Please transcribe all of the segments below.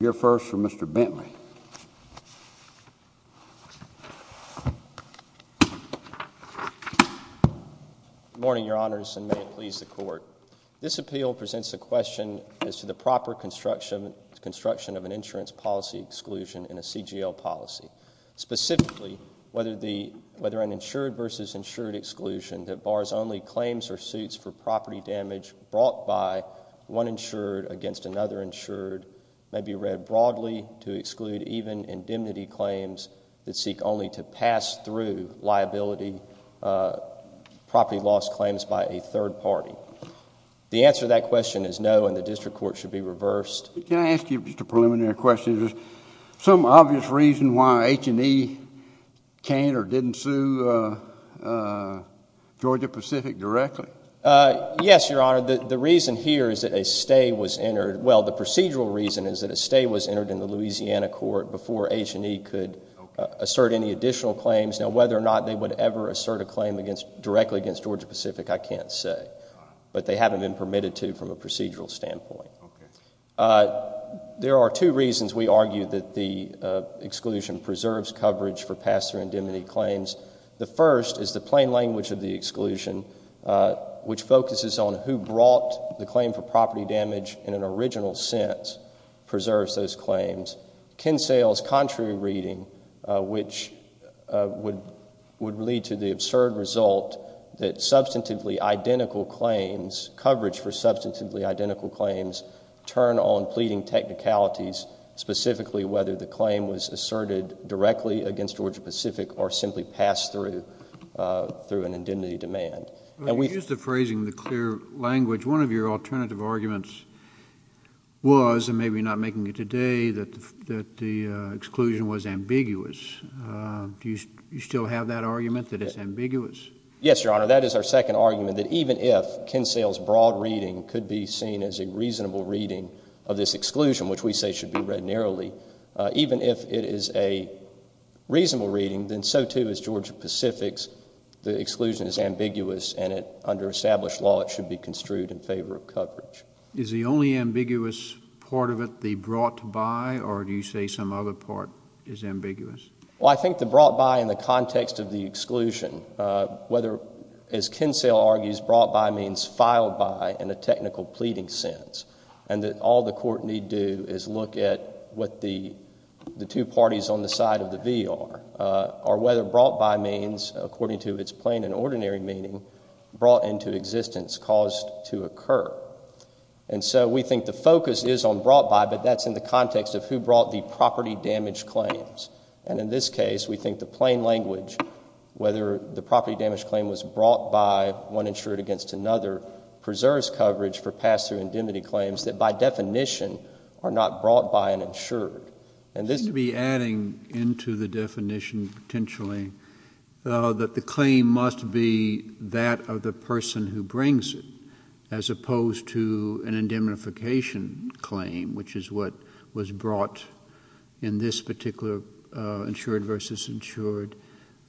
Your first for Mr. Bentley. Morning, your honors and may it please the court. This appeal presents a question as to the proper construction, construction of an insurance policy exclusion in a CGL policy, specifically, whether the whether an insured versus insured exclusion that bars only claims or suits for property damage brought by one insured against another insured may be read broadly to exclude even indemnity claims that seek only to pass through liability property loss claims by a third party. The answer to that question is no, and the district court should be reversed. Can I ask you just a preliminary question? There's some obvious reason why H&E can't or didn't sue Georgia Pacific directly? Yes, your honor. The reason here is that a stay was entered. Well, the procedural reason is that a stay was entered in the Louisiana court before H&E could assert any additional claims. Now, whether or not they would ever assert a claim against directly against Georgia Pacific, I can't say, but they haven't been permitted to from a procedural standpoint. There are two reasons we argue that the exclusion preserves coverage for pass through indemnity claims. The first is the plain language of the exclusion, which focuses on who brought the claim for property damage in an original sense, preserves those claims. Ken Sayles' contrary reading, which would would lead to the absurd result that substantively identical claims, coverage for substantively identical claims, turn on pleading technicalities, specifically whether the claim was asserted directly against Georgia Pacific or simply passed through through an indemnity demand. And we use the phrasing, the clear language, one of your alternative arguments was, and maybe not making it today, that that the exclusion was ambiguous. Do you still have that argument that it's ambiguous? Yes, your honor. That is our second argument that even if Ken Sayles' broad reading could be seen as a reasonable reading of this exclusion, which we say should be read narrowly, even if it is a reasonable reading, then so too is Georgia Pacific's. The exclusion is ambiguous and under established law, it should be construed in favor of coverage. Is the only ambiguous part of it the brought by or do you say some other part is ambiguous? Well, I think the brought by in the context of the exclusion, whether as Ken Sayles argues, brought by means filed by in a technical pleading sense, and that all the court need do is look at what the two parties on the side of the V are, are whether brought by means, according to its plain and ordinary meaning, brought into existence, caused to occur. And so we think the focus is on brought by, but that's in the context of who brought the property damage claims. And in this case, we think the plain language, whether the property damage claim was brought by one insured against another, preserves coverage for pass through indemnity claims that by definition are not brought by an insured. And this to be adding into the definition, potentially, that the claim must be that of the person who brings it as opposed to an indemnification claim, which is what was brought in this particular insured versus insured.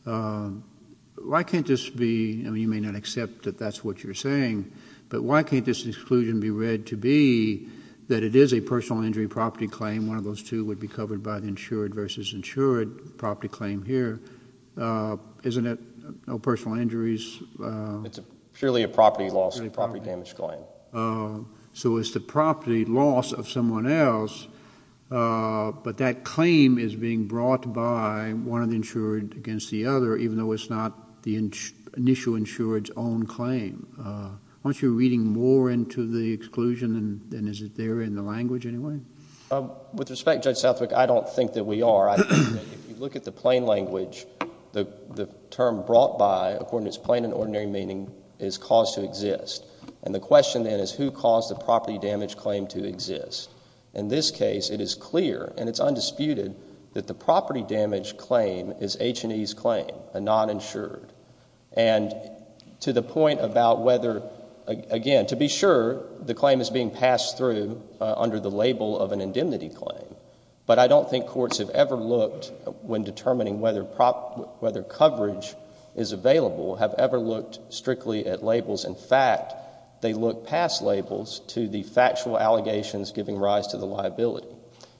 Why can't this be, I mean, you may not accept that that's what you're saying, but why can't this exclusion be read to be that it is a personal injury property claim? One of those two would be covered by the insured versus insured property claim here. Uh, isn't it no personal injuries? Uh, it's purely a property loss and property damage claim. Uh, so it's the property loss of someone else. Uh, but that claim is being brought by one of the insured against the other, even though it's not the initial insured's own claim, uh, once you're reading more into the exclusion and then is it there in the language anyway? Um, with respect to Judge Southwick, I don't think that we are. I think if you look at the plain language, the term brought by according to its plain and ordinary meaning is caused to exist. And the question then is who caused the property damage claim to exist? In this case, it is clear and it's undisputed that the property damage claim is H&E's claim, a non-insured. And to the point about whether, again, to be sure the claim is being passed through, uh, under the label of an indemnity claim, but I don't think courts have ever looked when determining whether prop, whether coverage is available, have ever looked strictly at labels. In fact, they look past labels to the factual allegations giving rise to the liability.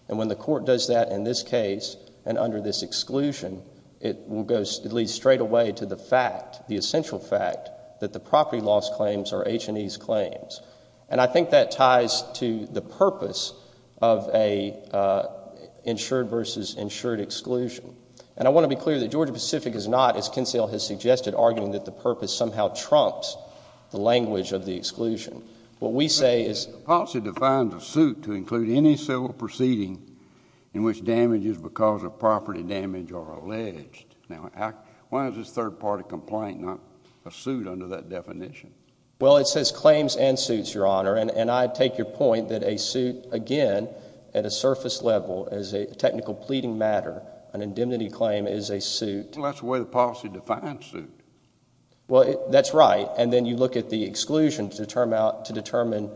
And when the court does that in this case, and under this exclusion, it will go, it leads straight away to the fact, the essential fact that the property loss claims are H&E's claims. And I think that ties to the purpose of a, uh, insured versus insured exclusion. And I want to be clear that Georgia Pacific is not, as Kinsella has suggested, arguing that the purpose somehow trumps the language of the exclusion. What we say is... The policy defines a suit to include any civil proceeding in which damage is because of property damage or alleged. Now, why is this third party complaint not a suit under that definition? Well, it says claims and suits, Your Honor. And I take your point that a suit, again, at a surface level as a technical pleading matter, an indemnity claim is a suit. Well, that's the way the policy defines suit. Well, that's right. And then you look at the exclusion to determine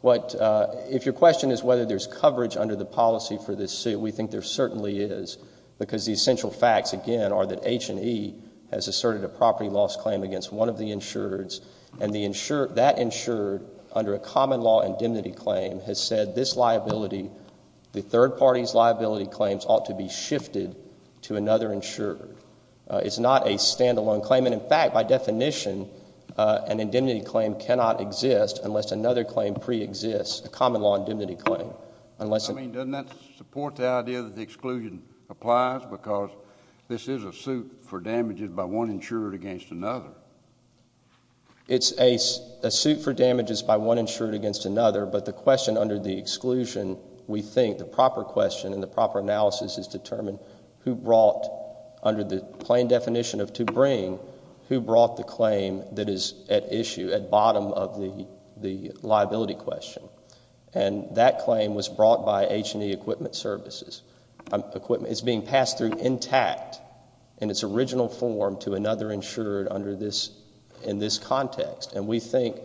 what, uh, if your question is whether there's coverage under the policy for this suit, we think there certainly is, because the essential facts, again, are that H&E has asserted a property loss claim against one of the insureds. And the insured, that insured under a common law indemnity claim has said this liability, the third party's liability claims ought to be shifted to another insured. Uh, it's not a standalone claim. And in fact, by definition, uh, an indemnity claim cannot exist unless another claim pre-exists a common law indemnity claim, unless... I mean, doesn't that support the idea that the exclusion applies because this is a suit for damages by one insured against another? It's a suit for damages by one insured against another, but the question under the exclusion, we think the proper question and the proper analysis is determined who brought under the plain definition of to bring, who brought the claim that is at issue at bottom of the, the liability question. And that claim was brought by H&E equipment services, equipment is being passed through intact in its original form to another insured under this, in this context, and we think,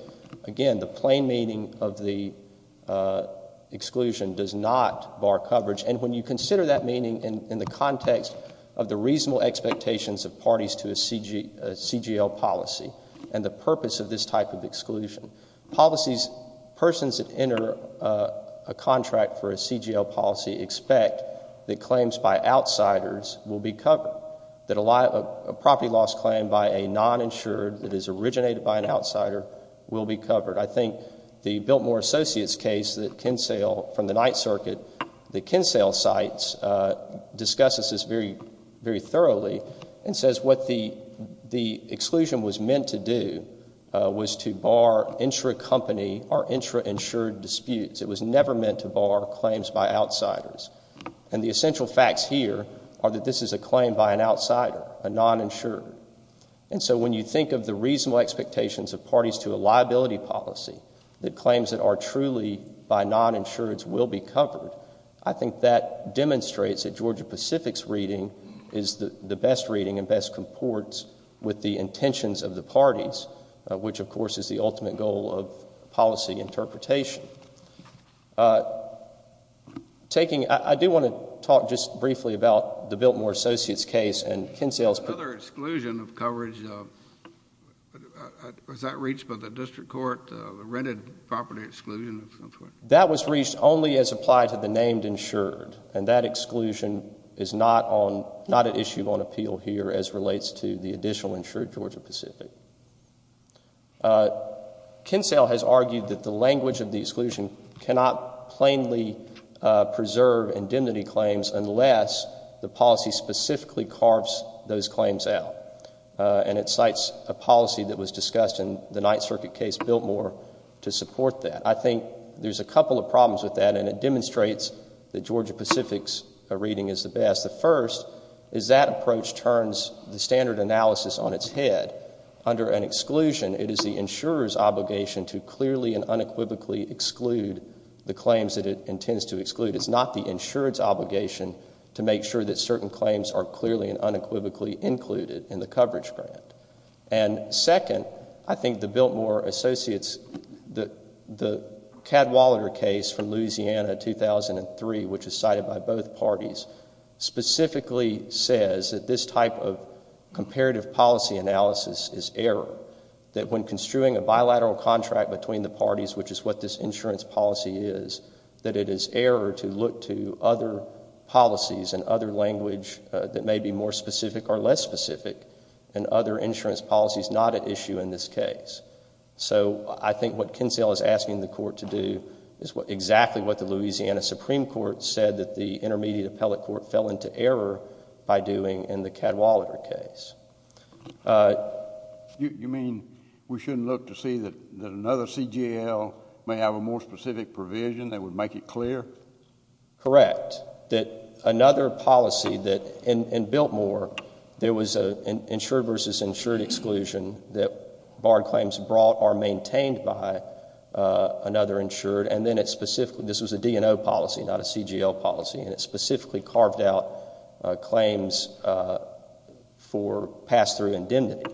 again, the plain meaning of the, uh, exclusion does not bar coverage. And when you consider that meaning in the context of the reasonable expectations of parties to a CG, a CGL policy and the purpose of this type of enter, uh, a contract for a CGL policy, expect that claims by outsiders will be covered, that a lot of property loss claim by a non-insured that is originated by an outsider will be covered. I think the Biltmore Associates case that Kinsale from the Ninth Circuit, the Kinsale sites, uh, discusses this very, very thoroughly and says what the, the exclusion was meant to do, uh, was to bar intra company or intra insured disputes, it was never meant to bar claims by outsiders. And the essential facts here are that this is a claim by an outsider, a non-insured. And so when you think of the reasonable expectations of parties to a liability policy, that claims that are truly by non-insureds will be covered, I think that demonstrates that Georgia Pacific's reading is the best reading and best comports with the intentions of the parties, uh, which of course is the patient, uh, taking, I do want to talk just briefly about the Biltmore Associates case and Kinsale's. Another exclusion of coverage, uh, was that reached by the district court, uh, the rented property exclusion? That was reached only as applied to the named insured. And that exclusion is not on, not an issue on appeal here as relates to the additional insured Georgia Pacific. Uh, Kinsale has argued that the language of the exclusion cannot plainly, uh, preserve indemnity claims unless the policy specifically carves those claims out, uh, and it cites a policy that was discussed in the Ninth Circuit case, Biltmore to support that. I think there's a couple of problems with that and it demonstrates that Georgia Pacific's reading is the best. The first is that approach turns the standard analysis on its head. Under an exclusion, it is the insurer's obligation to clearly and unequivocally exclude the claims that it intends to exclude. It's not the insurer's obligation to make sure that certain claims are clearly and unequivocally included in the coverage grant. And second, I think the Biltmore Associates, the, the Cadwallader case from Louisiana 2003, which is cited by both parties specifically says that this type of comparative policy analysis is error, that when construing a bilateral contract between the parties, which is what this insurance policy is, that it is error to look to other policies and other language, uh, that may be more specific or less specific and other insurance policies not at issue in this case. So I think what Kinsale is asking the court to do is what exactly what the Louisiana Supreme Court said that the intermediate appellate court fell into error by doing in the Cadwallader case. Uh, you, you mean we shouldn't look to see that another CGL may have a more specific provision that would make it clear? Correct. That another policy that in, in Biltmore, there was a insured versus insured exclusion that barred claims brought or maintained by, uh, another insured. And then it specifically, this was a DNO policy, not a CGL policy, and it barred, uh, claims, uh, for pass through indemnity.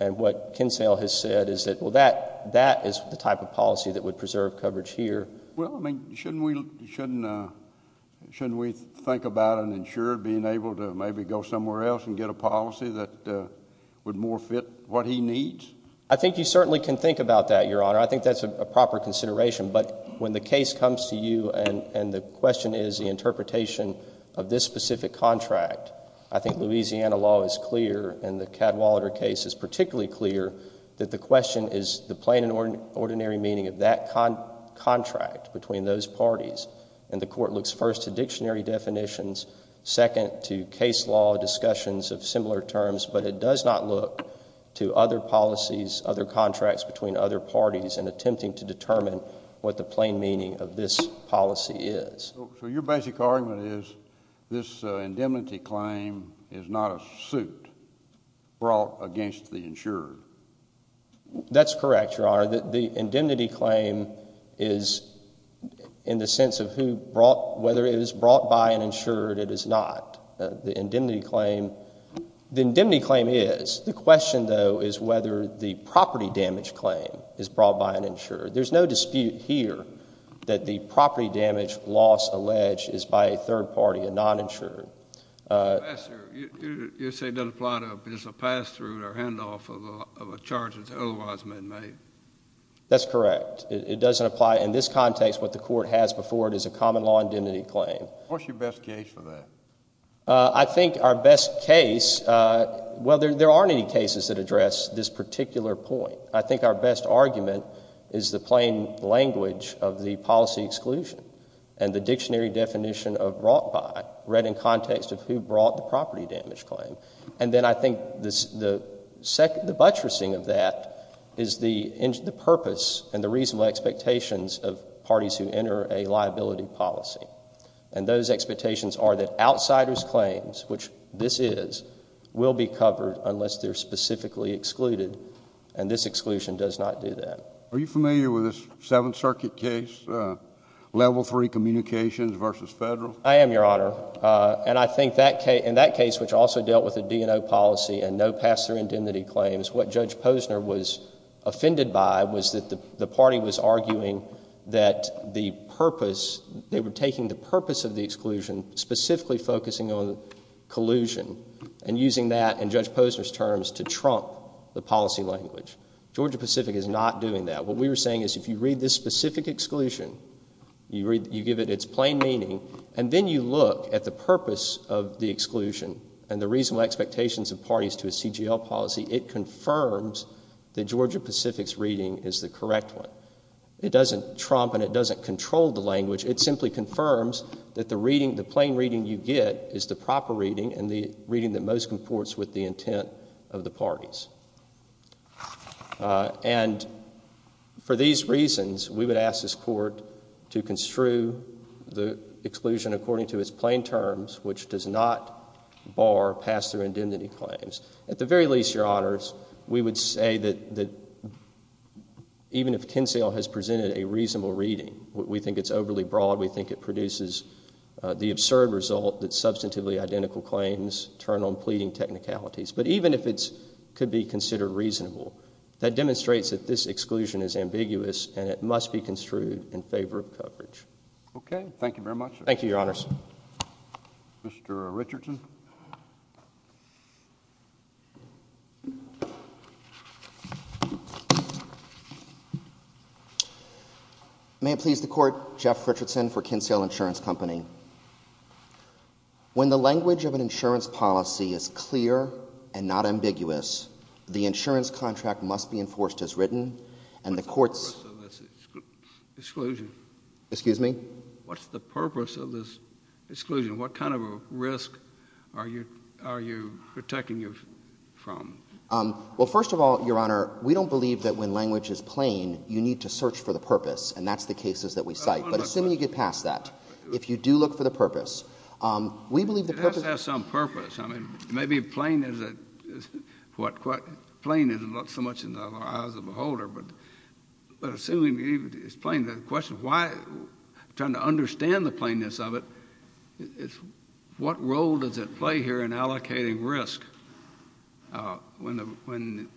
And what Kinsale has said is that, well, that, that is the type of policy that would preserve coverage here. Well, I mean, shouldn't we, shouldn't, uh, shouldn't we think about an insured being able to maybe go somewhere else and get a policy that, uh, would more fit what he needs? I think you certainly can think about that, Your Honor. I think that's a proper consideration, but when the case comes to you and, and the question is the interpretation of this specific contract, I think Louisiana law is clear and the Cadwallader case is particularly clear that the question is the plain and ordinary meaning of that con, contract between those parties. And the court looks first to dictionary definitions, second to case law, discussions of similar terms, but it does not look to other policies, other contracts between other parties and attempting to determine what the plain meaning of this policy is. So your basic argument is this, uh, indemnity claim is not a suit brought against the insured. That's correct, Your Honor. The indemnity claim is in the sense of who brought, whether it is brought by an insured, it is not. Uh, the indemnity claim, the indemnity claim is. The question though, is whether the property damage claim is brought by an insured. There's no dispute here that the property damage loss alleged is by a third party, a non-insured. Uh, you're saying doesn't apply to a pass through or handoff of a charge that's otherwise been made. That's correct. It doesn't apply in this context. What the court has before it is a common law indemnity claim. What's your best case for that? Uh, I think our best case, uh, well, there, there aren't any cases that address this particular point. I think our best argument is the plain language of the policy exclusion and the dictionary definition of brought by read in context of who brought the property damage claim. And then I think this, the second, the buttressing of that is the, the purpose and the reasonable expectations of parties who enter a liability policy. And those expectations are that outsiders claims, which this is, will be covered unless they're specifically excluded. And this exclusion does not do that. Are you familiar with this seventh circuit case, uh, level three communications versus federal? I am your honor. Uh, and I think that K in that case, which also dealt with a D and O policy and no pass through indemnity claims, what judge Posner was offended by was that the party was arguing that the purpose, they were taking the purpose of the exclusion specifically focusing on collusion and using that and judge Posner's terms to trump the policy language. Georgia Pacific is not doing that. What we were saying is if you read this specific exclusion, you read, you give it its plain meaning, and then you look at the purpose of the exclusion and the reasonable expectations of parties to a CGL policy. It confirms the Georgia Pacific's reading is the correct one. It doesn't trump and it doesn't control the language. It simply confirms that the reading, the plain reading you get is the proper reading and the reading that most comports with the intent of the parties. Uh, and for these reasons, we would ask this court to construe the exclusion according to its plain terms, which does not bar pass through indemnity claims. At the very least, your honors, we would say that, that even if Kinsale has presented a reasonable reading, we think it's overly broad. We think it produces the absurd result that substantively identical claims turn on pleading technicalities. But even if it's could be considered reasonable, that demonstrates that this exclusion is ambiguous and it must be construed in favor of coverage. Okay. Thank you very much. Thank you, your honors. Mr. Richardson. May it please the court, Jeff Richardson for Kinsale Insurance Company. When the language of an insurance policy is clear and not ambiguous, the insurance contract must be enforced as written and the courts, excuse me, what's the purpose of this exclusion, what kind of a risk is it to the public and to the insurers? And what is the purpose of this exclusion? Are you, are you protecting you from? Um, well, first of all, your honor, we don't believe that when language is plain, you need to search for the purpose and that's the cases that we cite. But assuming you get past that, if you do look for the purpose, um, we believe the purpose has some purpose. I mean, maybe plain is what, plain isn't so much in the eyes of the beholder, but, but assuming it's plain, the question of why, trying to understand the plainness of it, it's what role does it play here in allocating risk? Uh, when the, when,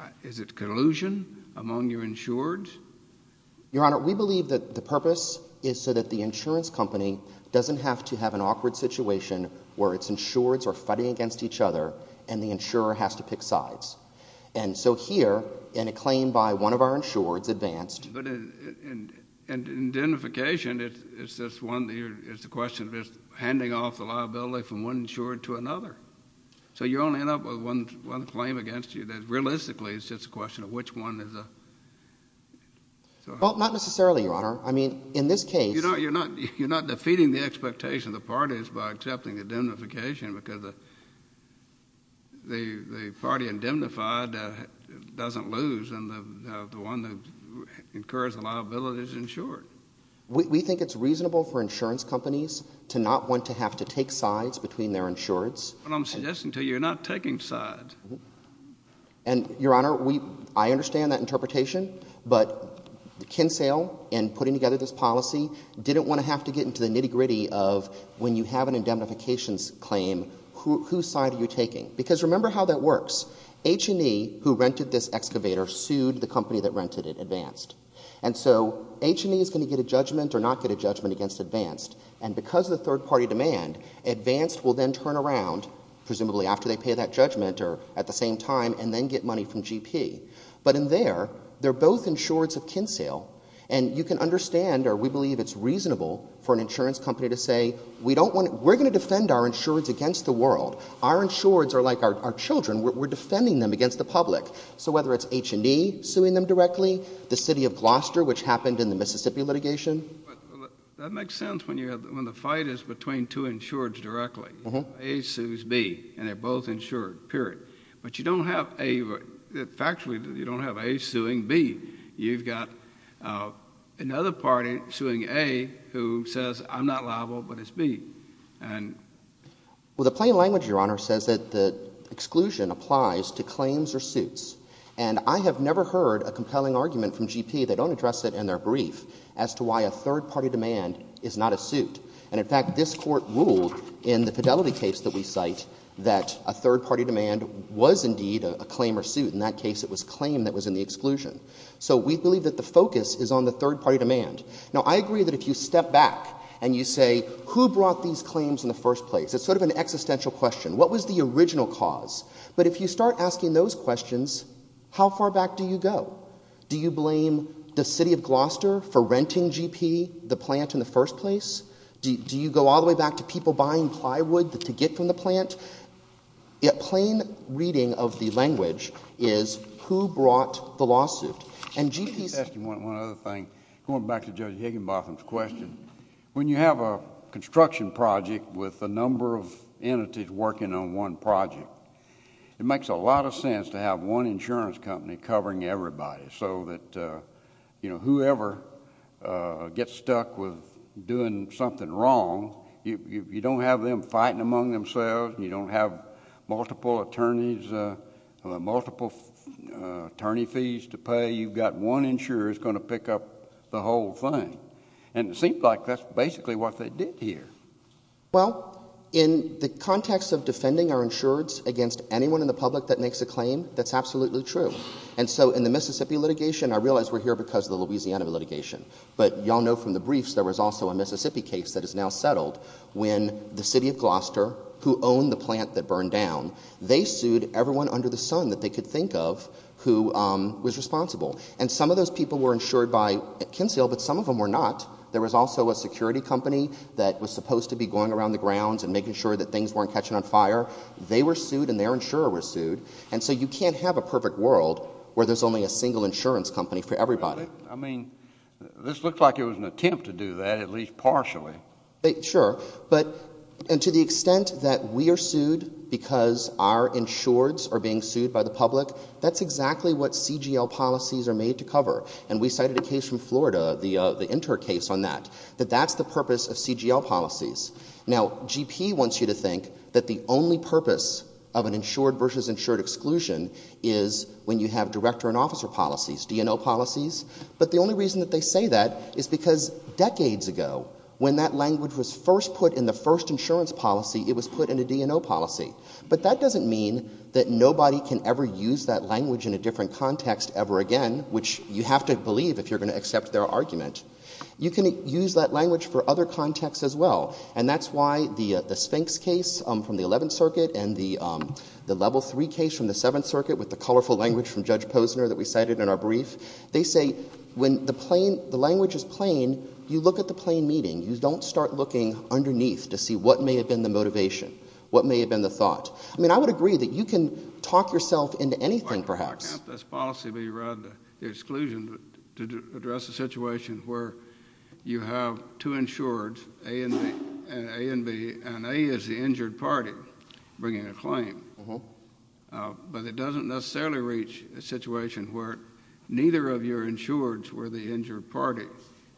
uh, is it collusion among your insured? Your honor, we believe that the purpose is so that the insurance company doesn't have to have an awkward situation where it's insured or fighting against each other and the insurer has to pick sides. And so here in a claim by one of our insureds advanced. But in, in, in indemnification, it's, it's this one that you're, it's the question of just handing off the liability from one insured to another. So you only end up with one, one claim against you. That realistically, it's just a question of which one is a. Well, not necessarily, your honor. I mean, in this case, you're not, you're not, you're not defeating the expectation of the parties by accepting indemnification because the, the, the one that incurs a liability is insured. We think it's reasonable for insurance companies to not want to have to take sides between their insureds. And I'm suggesting to you, you're not taking sides. And your honor, we, I understand that interpretation, but the Kinsale and putting together this policy didn't want to have to get into the nitty-gritty of when you have an indemnification claim, who, whose side are you taking? Because remember how that works. H&E who rented this excavator sued the company that rented it, Advanced. And so H&E is going to get a judgment or not get a judgment against Advanced. And because of the third party demand, Advanced will then turn around, presumably after they pay that judgment or at the same time, and then get money from GP. But in there, they're both insureds of Kinsale and you can understand, or we believe it's reasonable for an insurance company to say, we don't want, we're going to defend our insureds against the world. Our insureds are like our children. We're defending them against the public. So whether it's H&E suing them directly, the city of Gloucester, which happened in the Mississippi litigation. That makes sense. When you have, when the fight is between two insureds directly, A sues B and they're both insured period, but you don't have a factually, you don't have A suing B, you've got another party suing A who says I'm not liable, but it's B. And. Well, the plain language, Your Honor, says that the exclusion applies to claims or suits. And I have never heard a compelling argument from GP, they don't address it in their brief, as to why a third party demand is not a suit. And in fact, this Court ruled in the Fidelity case that we cite that a third party demand was indeed a claim or suit. In that case, it was claim that was in the exclusion. So we believe that the focus is on the third party demand. Now, I agree that if you step back and you say, who brought these claims in the first place? It's sort of an existential question. What was the original cause? But if you start asking those questions, how far back do you go? Do you blame the city of Gloucester for renting GP the plant in the first place? Do you go all the way back to people buying plywood to get from the plant? Yet plain reading of the language is who brought the lawsuit. And GP's...... one other thing. Going back to Judge Higginbotham's question, when you have a construction project with a number of entities working on one project, it makes a lot of sense to have one insurance company covering everybody so that, you know, whoever gets stuck with doing something wrong, you don't have them fighting among themselves. You don't have multiple attorneys, multiple attorney fees to pay. You've got one insurer who's going to pick up the whole thing. And it seems like that's basically what they did here. Well, in the context of defending our insurance against anyone in the public that makes a claim, that's absolutely true. And so in the Mississippi litigation, I realize we're here because of the Louisiana litigation, but y'all know from the briefs, there was also a Mississippi case that is now settled when the city of Gloucester, who owned the plant that burned down, they sued everyone under the sun that they could think of who was responsible. And some of those people were insured by Kinsel, but some of them were not. There was also a security company that was supposed to be going around the grounds and making sure that things weren't catching on fire. They were sued and their insurer was sued. And so you can't have a perfect world where there's only a single insurance company for everybody. I mean, this looks like it was an attempt to do that, at least partially. Sure. But, and to the extent that we are sued because our insureds are being sued by the public, that's exactly what CGL policies are made to cover. And we cited a case from Florida, the Inter case on that, that that's the purpose of CGL policies. Now, GP wants you to think that the only purpose of an insured versus insured exclusion is when you have director and officer policies. DNO policies. But the only reason that they say that is because decades ago, when that language was first put in the first insurance policy, it was put in a DNO policy. But that doesn't mean that nobody can ever use that language in a different context ever again, which you have to believe if you're going to accept their argument, you can use that language for other contexts as well. And that's why the Sphinx case from the 11th circuit and the level three case from the seventh circuit with the colorful language from judge Posner that we cited in our brief, they say when the plain, the language is plain, you look at the plain meeting, you don't start looking underneath to see what may have been the motivation, what may have been the thought. I mean, I would agree that you can talk yourself into anything, perhaps. Can't this policy be read the exclusion to address a situation where you have two insureds, A and B, and A is the injured party bringing a claim, but it doesn't necessarily reach a situation where neither of your insureds were the injured party,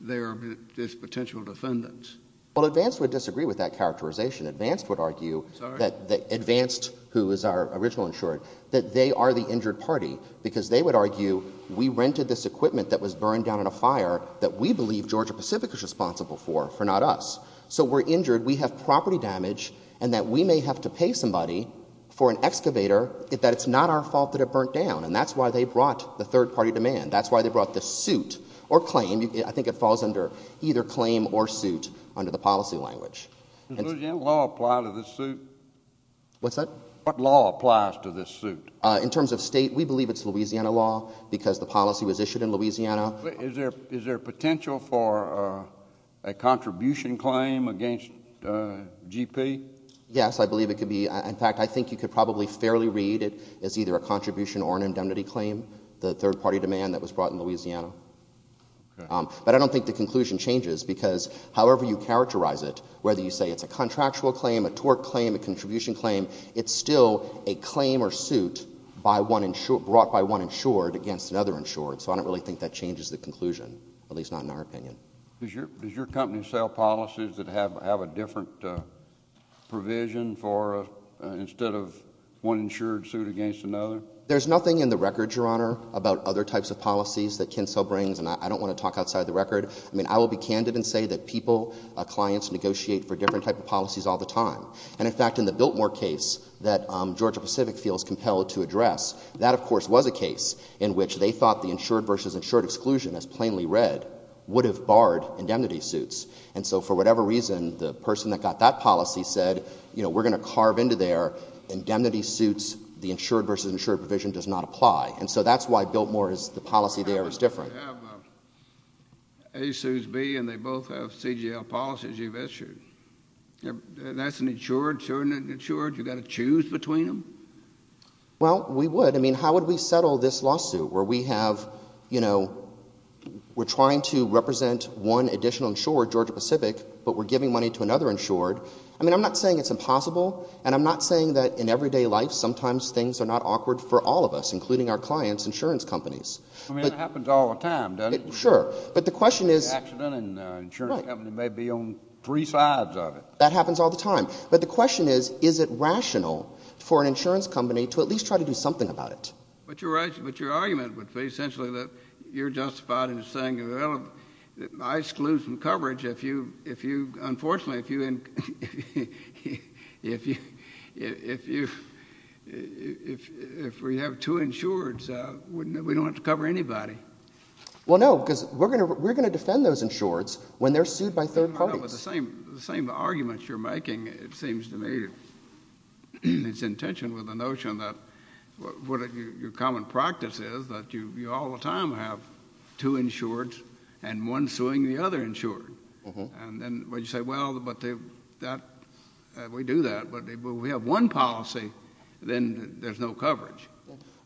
they are this potential defendants. Well, advanced would disagree with that characterization. Advanced would argue that the advanced, who is our original insured, that they are the injured party because they would argue we rented this equipment that was burned down in a fire that we believe Georgia Pacific is responsible for, for not us. So we're injured. We have property damage and that we may have to pay somebody for an excavator that it's not our fault that it burnt down. And that's why they brought the third party demand. That's why they brought the suit or claim. I think it falls under either claim or suit under the policy language. Does Louisiana law apply to this suit? What's that? What law applies to this suit? In terms of state, we believe it's Louisiana law because the policy was issued in Louisiana. Is there, is there potential for a contribution claim against GP? Yes, I believe it could be. In fact, I think you could probably fairly read it. It's either a contribution or an indemnity claim, the third party demand that was brought in Louisiana. But I don't think the conclusion changes because however you characterize it, whether you say it's a contractual claim, a tort claim, a contribution claim, it's still a claim or suit by one insured, brought by one insured against another insured. So I don't really think that changes the conclusion, at least not in our opinion. Does your, does your company sell policies that have, have a different provision for a, instead of one insured suit against another? There's nothing in the record, Your Honor, about other types of policies that Kinsel brings. And I don't want to talk outside of the record. I mean, I will be candid and say that people, clients negotiate for different type of policies all the time. And in fact, in the Biltmore case that Georgia Pacific feels compelled to address, that of course was a case in which they thought the insured versus insured exclusion as plainly read would have barred indemnity suits. And so for whatever reason, the person that got that policy said, you know, we're going to carve into their indemnity suits, the insured versus insured provision does not apply. And so that's why Biltmore is, the policy there is different. You have a, A sues B and they both have CGL policies you've issued. That's an insured, insured, insured. You got to choose between them? Well, we would. I mean, how would we settle this lawsuit where we have, you know, we're trying to get Georgia Pacific, but we're giving money to another insured. I mean, I'm not saying it's impossible and I'm not saying that in everyday life, sometimes things are not awkward for all of us, including our clients, insurance companies. I mean, it happens all the time, doesn't it? Sure. But the question is. Accident and insurance company may be on three sides of it. That happens all the time. But the question is, is it rational for an insurance company to at least try to do something about it? But you're right, but your argument would be essentially that you're justified in saying, well, I exclude from coverage. If you, if you, unfortunately, if you, if you, if you, if we have two insureds, we don't have to cover anybody. Well, no, because we're going to, we're going to defend those insureds when they're sued by third parties. The same, the same arguments you're making. It seems to me it's in tension with the notion that what your common practice is that you, you all the time have two insureds and one suing the other insured. And then when you say, well, but they, that we do that, but we have one policy, then there's no coverage.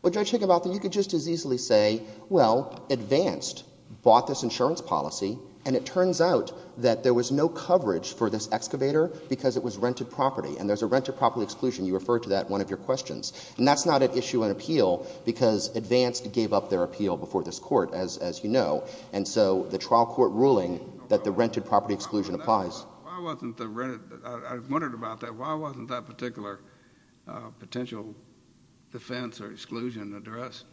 Well, Judge Higginbotham, you could just as easily say, well, Advanced bought this insurance policy and it turns out that there was no coverage for this excavator because it was rented property. And there's a rented property exclusion. You referred to that in one of your questions. And that's not an issue in appeal because Advanced gave up their appeal before this court, as, as you know. And so the trial court ruling that the rented property exclusion applies. Why wasn't the rented, I wondered about that. Why wasn't that particular potential defense or exclusion addressed?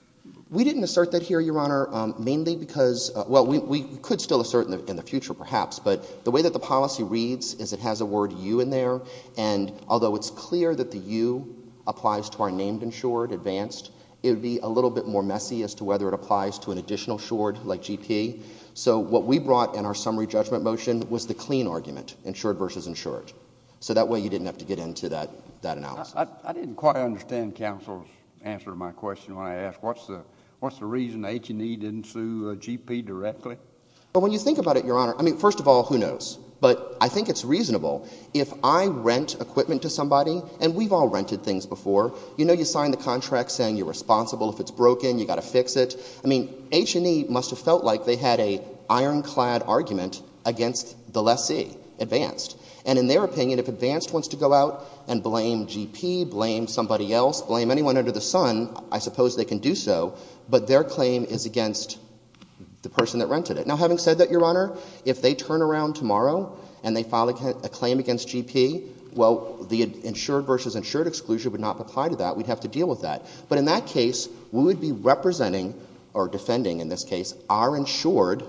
We didn't assert that here, Your Honor, mainly because, well, we, we could still assert in the future perhaps, but the way that the policy reads is it has a word U in there. And although it's clear that the U applies to our named insured, Advanced, it would be a little bit more messy as to whether it applies to an additional short like GP. So what we brought in our summary judgment motion was the clean argument, insured versus insured. So that way you didn't have to get into that, that analysis. I didn't quite understand counsel's answer to my question. When I asked what's the, what's the reason H and E didn't sue a GP directly? But when you think about it, Your Honor, I mean, first of all, who knows, but I think it's reasonable. If I rent equipment to somebody and we've all rented things before, you know, you sign the contract saying you're responsible. If it's broken, you got to fix it. I mean, H and E must have felt like they had a ironclad argument against the lessee, Advanced. And in their opinion, if Advanced wants to go out and blame GP, blame somebody else, blame anyone under the sun, I suppose they can do so. But their claim is against the person that rented it. Now, having said that, Your Honor, if they turn around tomorrow and they file a claim against GP, well, the insured versus insured exclusion would not apply to that. We'd have to deal with that. But in that case, we would be representing or defending in this case, our insured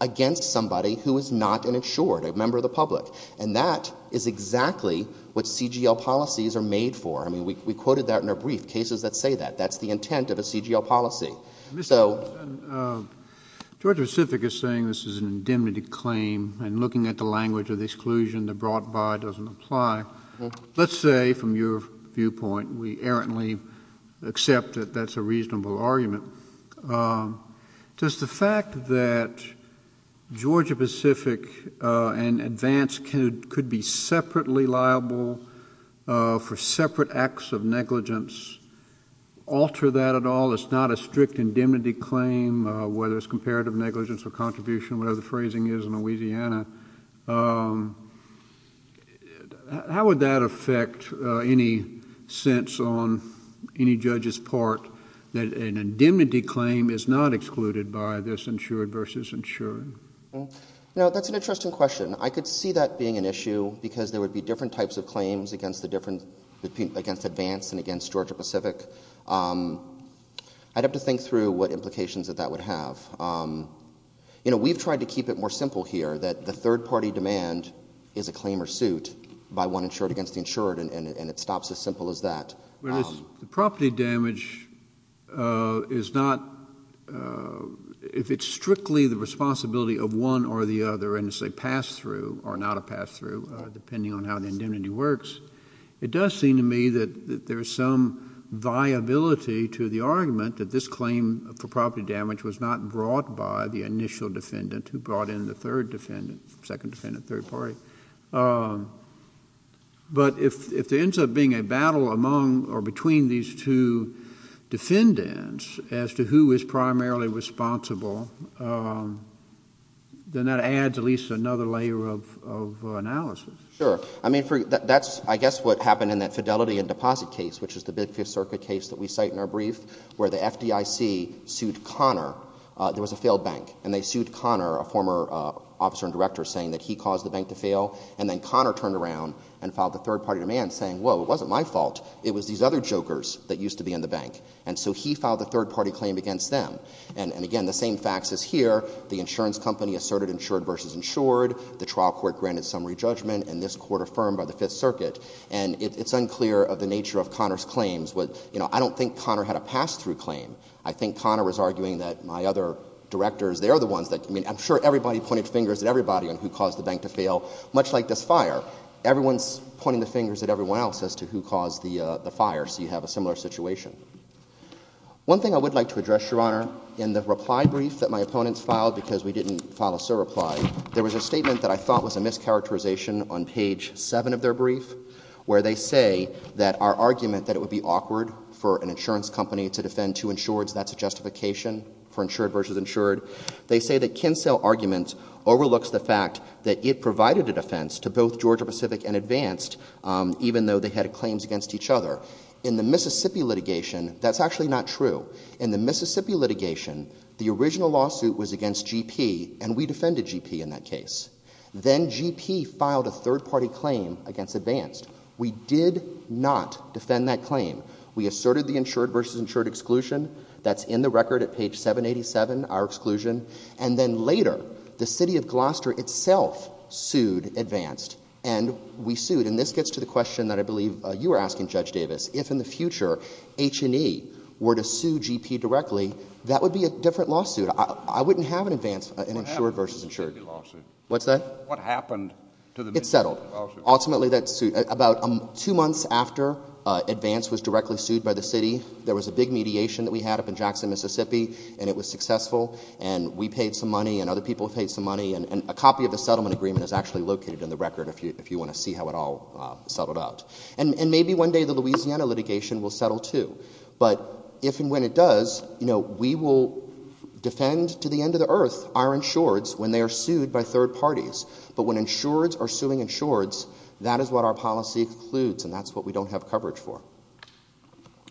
against somebody who is not an insured, a member of the public. And that is exactly what CGL policies are made for. I mean, we, we quoted that in a brief cases that say that that's the intent of a CGL policy. Mr. Owens, Georgia Pacific is saying this is an indemnity claim and looking at the language of the exclusion, the brought by doesn't apply. Let's say from your viewpoint, we errantly accept that that's a reasonable argument. Does the fact that Georgia Pacific and Advanced could be separately liable for separate acts of negligence alter that at all? It's not a strict indemnity claim, whether it's comparative negligence or contribution, whatever the phrasing is in Louisiana. How would that affect any sense on any judge's part that an indemnity claim is not excluded by this insured versus insured? No, that's an interesting question. I could see that being an issue because there would be different types of claims against the different, against Advanced and against Georgia Pacific. I'd have to think through what implications that that would have. You know, we've tried to keep it more simple here that the third party demand is a claim or suit by one insured against the insured. And it stops as simple as that. The property damage is not, if it's strictly the responsibility of one or the other and it's a pass-through or not a pass-through, depending on how the indemnity works, it does seem to me that there is some viability to the argument that this claim for property damage was not brought by the initial defendant who brought in the third defendant, second defendant, third party. But if there ends up being a battle among or between these two defendants as to who is primarily responsible, then that adds at least another layer of analysis. Sure. I mean, that's, I guess, what happened in that Fidelity and Deposit case, which is the big Fifth Circuit case that we cite in our brief, where the FDIC sued Connor. There was a failed bank and they sued Connor, a former officer and director, saying that he caused the bank to fail. And then Connor turned around and filed the third party demand saying, whoa, it wasn't my fault, it was these other jokers that used to be in the bank. And so he filed the third party claim against them. And again, the same facts as here, the insurance company asserted insured versus insured, the trial court granted summary judgment, and this court affirmed by the Fifth Circuit. And it's unclear of the nature of Connor's claims with, you know, I don't think Connor had a pass-through claim. I think Connor was arguing that my other directors, they're the ones that, I mean, I'm sure everybody pointed fingers at everybody on who caused the bank to fail. Much like this fire, everyone's pointing the fingers at everyone else as to who caused the fire. So you have a similar situation. One thing I would like to address, Your Honor, in the reply brief that my opponents filed, because we didn't file a surreply, there was a statement that I thought was a mischaracterization on page seven of their brief, where they say that our argument that it would be awkward for an insurance company to defend two insureds, that's a justification for insured versus insured. They say that Kinsell argument overlooks the fact that it provided a defense to both Georgia Pacific and Advanced, even though they had claims against each other. In the Mississippi litigation, that's actually not true. In the Mississippi litigation, the original lawsuit was against GP and we defended GP in that case. Then GP filed a third party claim against Advanced. We did not defend that claim. We asserted the insured versus insured exclusion. That's in the record at page 787, our exclusion. And then later, the city of Gloucester itself sued Advanced and we sued. And this gets to the question that I believe you were asking, Judge Davis, if in the case, we sued GP directly, that would be a different lawsuit. I wouldn't have an Advanced, an insured versus insured. What's that? What happened to the lawsuit? It's settled. Ultimately, that's about two months after Advanced was directly sued by the city. There was a big mediation that we had up in Jackson, Mississippi, and it was successful and we paid some money and other people paid some money. And a copy of the settlement agreement is actually located in the record, if you want to see how it all settled out. And maybe one day the Louisiana litigation will settle too. But if, and when it does, you know, we will defend to the end of the earth our insureds when they are sued by third parties. But when insureds are suing insureds, that is what our policy includes. And that's what we don't have coverage for.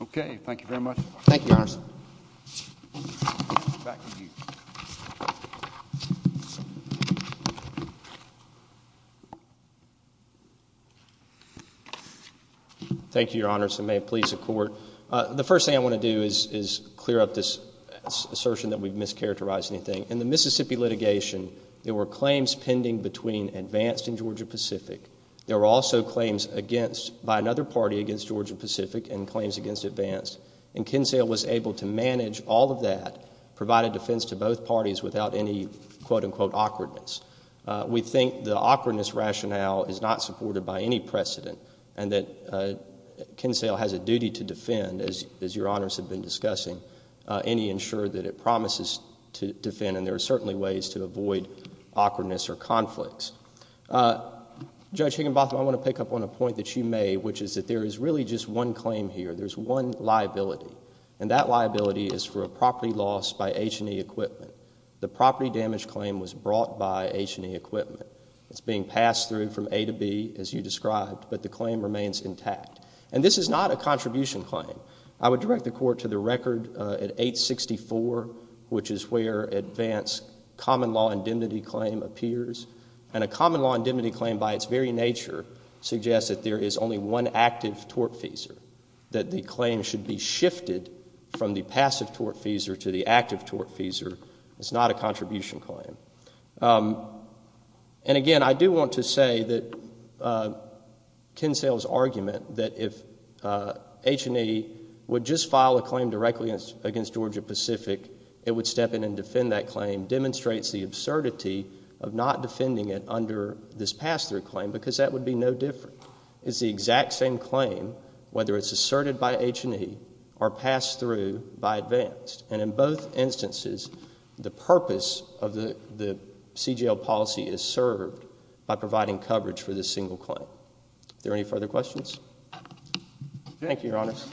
Okay. Thank you very much. Thank you, Your Honors. Thank you, Your Honors. And may it please the Court. The first thing I want to do is clear up this assertion that we've mischaracterized anything. In the Mississippi litigation, there were claims pending between Advanced and Georgia-Pacific. There were also claims against, by another party against Georgia-Pacific and claims against Advanced. And Kinsale was able to manage all of that, provide a defense to both parties without any, quote unquote, awkwardness. We think the awkwardness rationale is not supported by any precedent. And that Kinsale has a duty to defend, as Your Honors have been discussing, any insured that it promises to defend. And there are certainly ways to avoid awkwardness or conflicts. Judge Higginbotham, I want to pick up on a point that you made, which is that there is really just one claim here. There's one liability. And that liability is for a property loss by H&E Equipment. The property damage claim was brought by H&E Equipment. It's being passed through from A to B, as you described. But the claim remains intact. And this is not a contribution claim. I would direct the Court to the record at 864, which is where Advanced Common Law Indemnity Claim appears. And a Common Law Indemnity Claim, by its very nature, suggests that there is only one active tortfeasor, that the claim should be shifted from the passive tortfeasor to the active tortfeasor. It's not a contribution claim. And again, I do want to say that Kinsale's argument that if H&E would just file a claim directly against Georgia Pacific, it would step in and defend that claim, demonstrates the absurdity of not defending it under this pass-through claim, because that would be no different. It's the exact same claim, whether it's asserted by H&E or passed through by Advanced. And in both instances, the purpose of the CGL policy is served by providing coverage for this single claim. Are there any further questions? Thank you, Your Honors.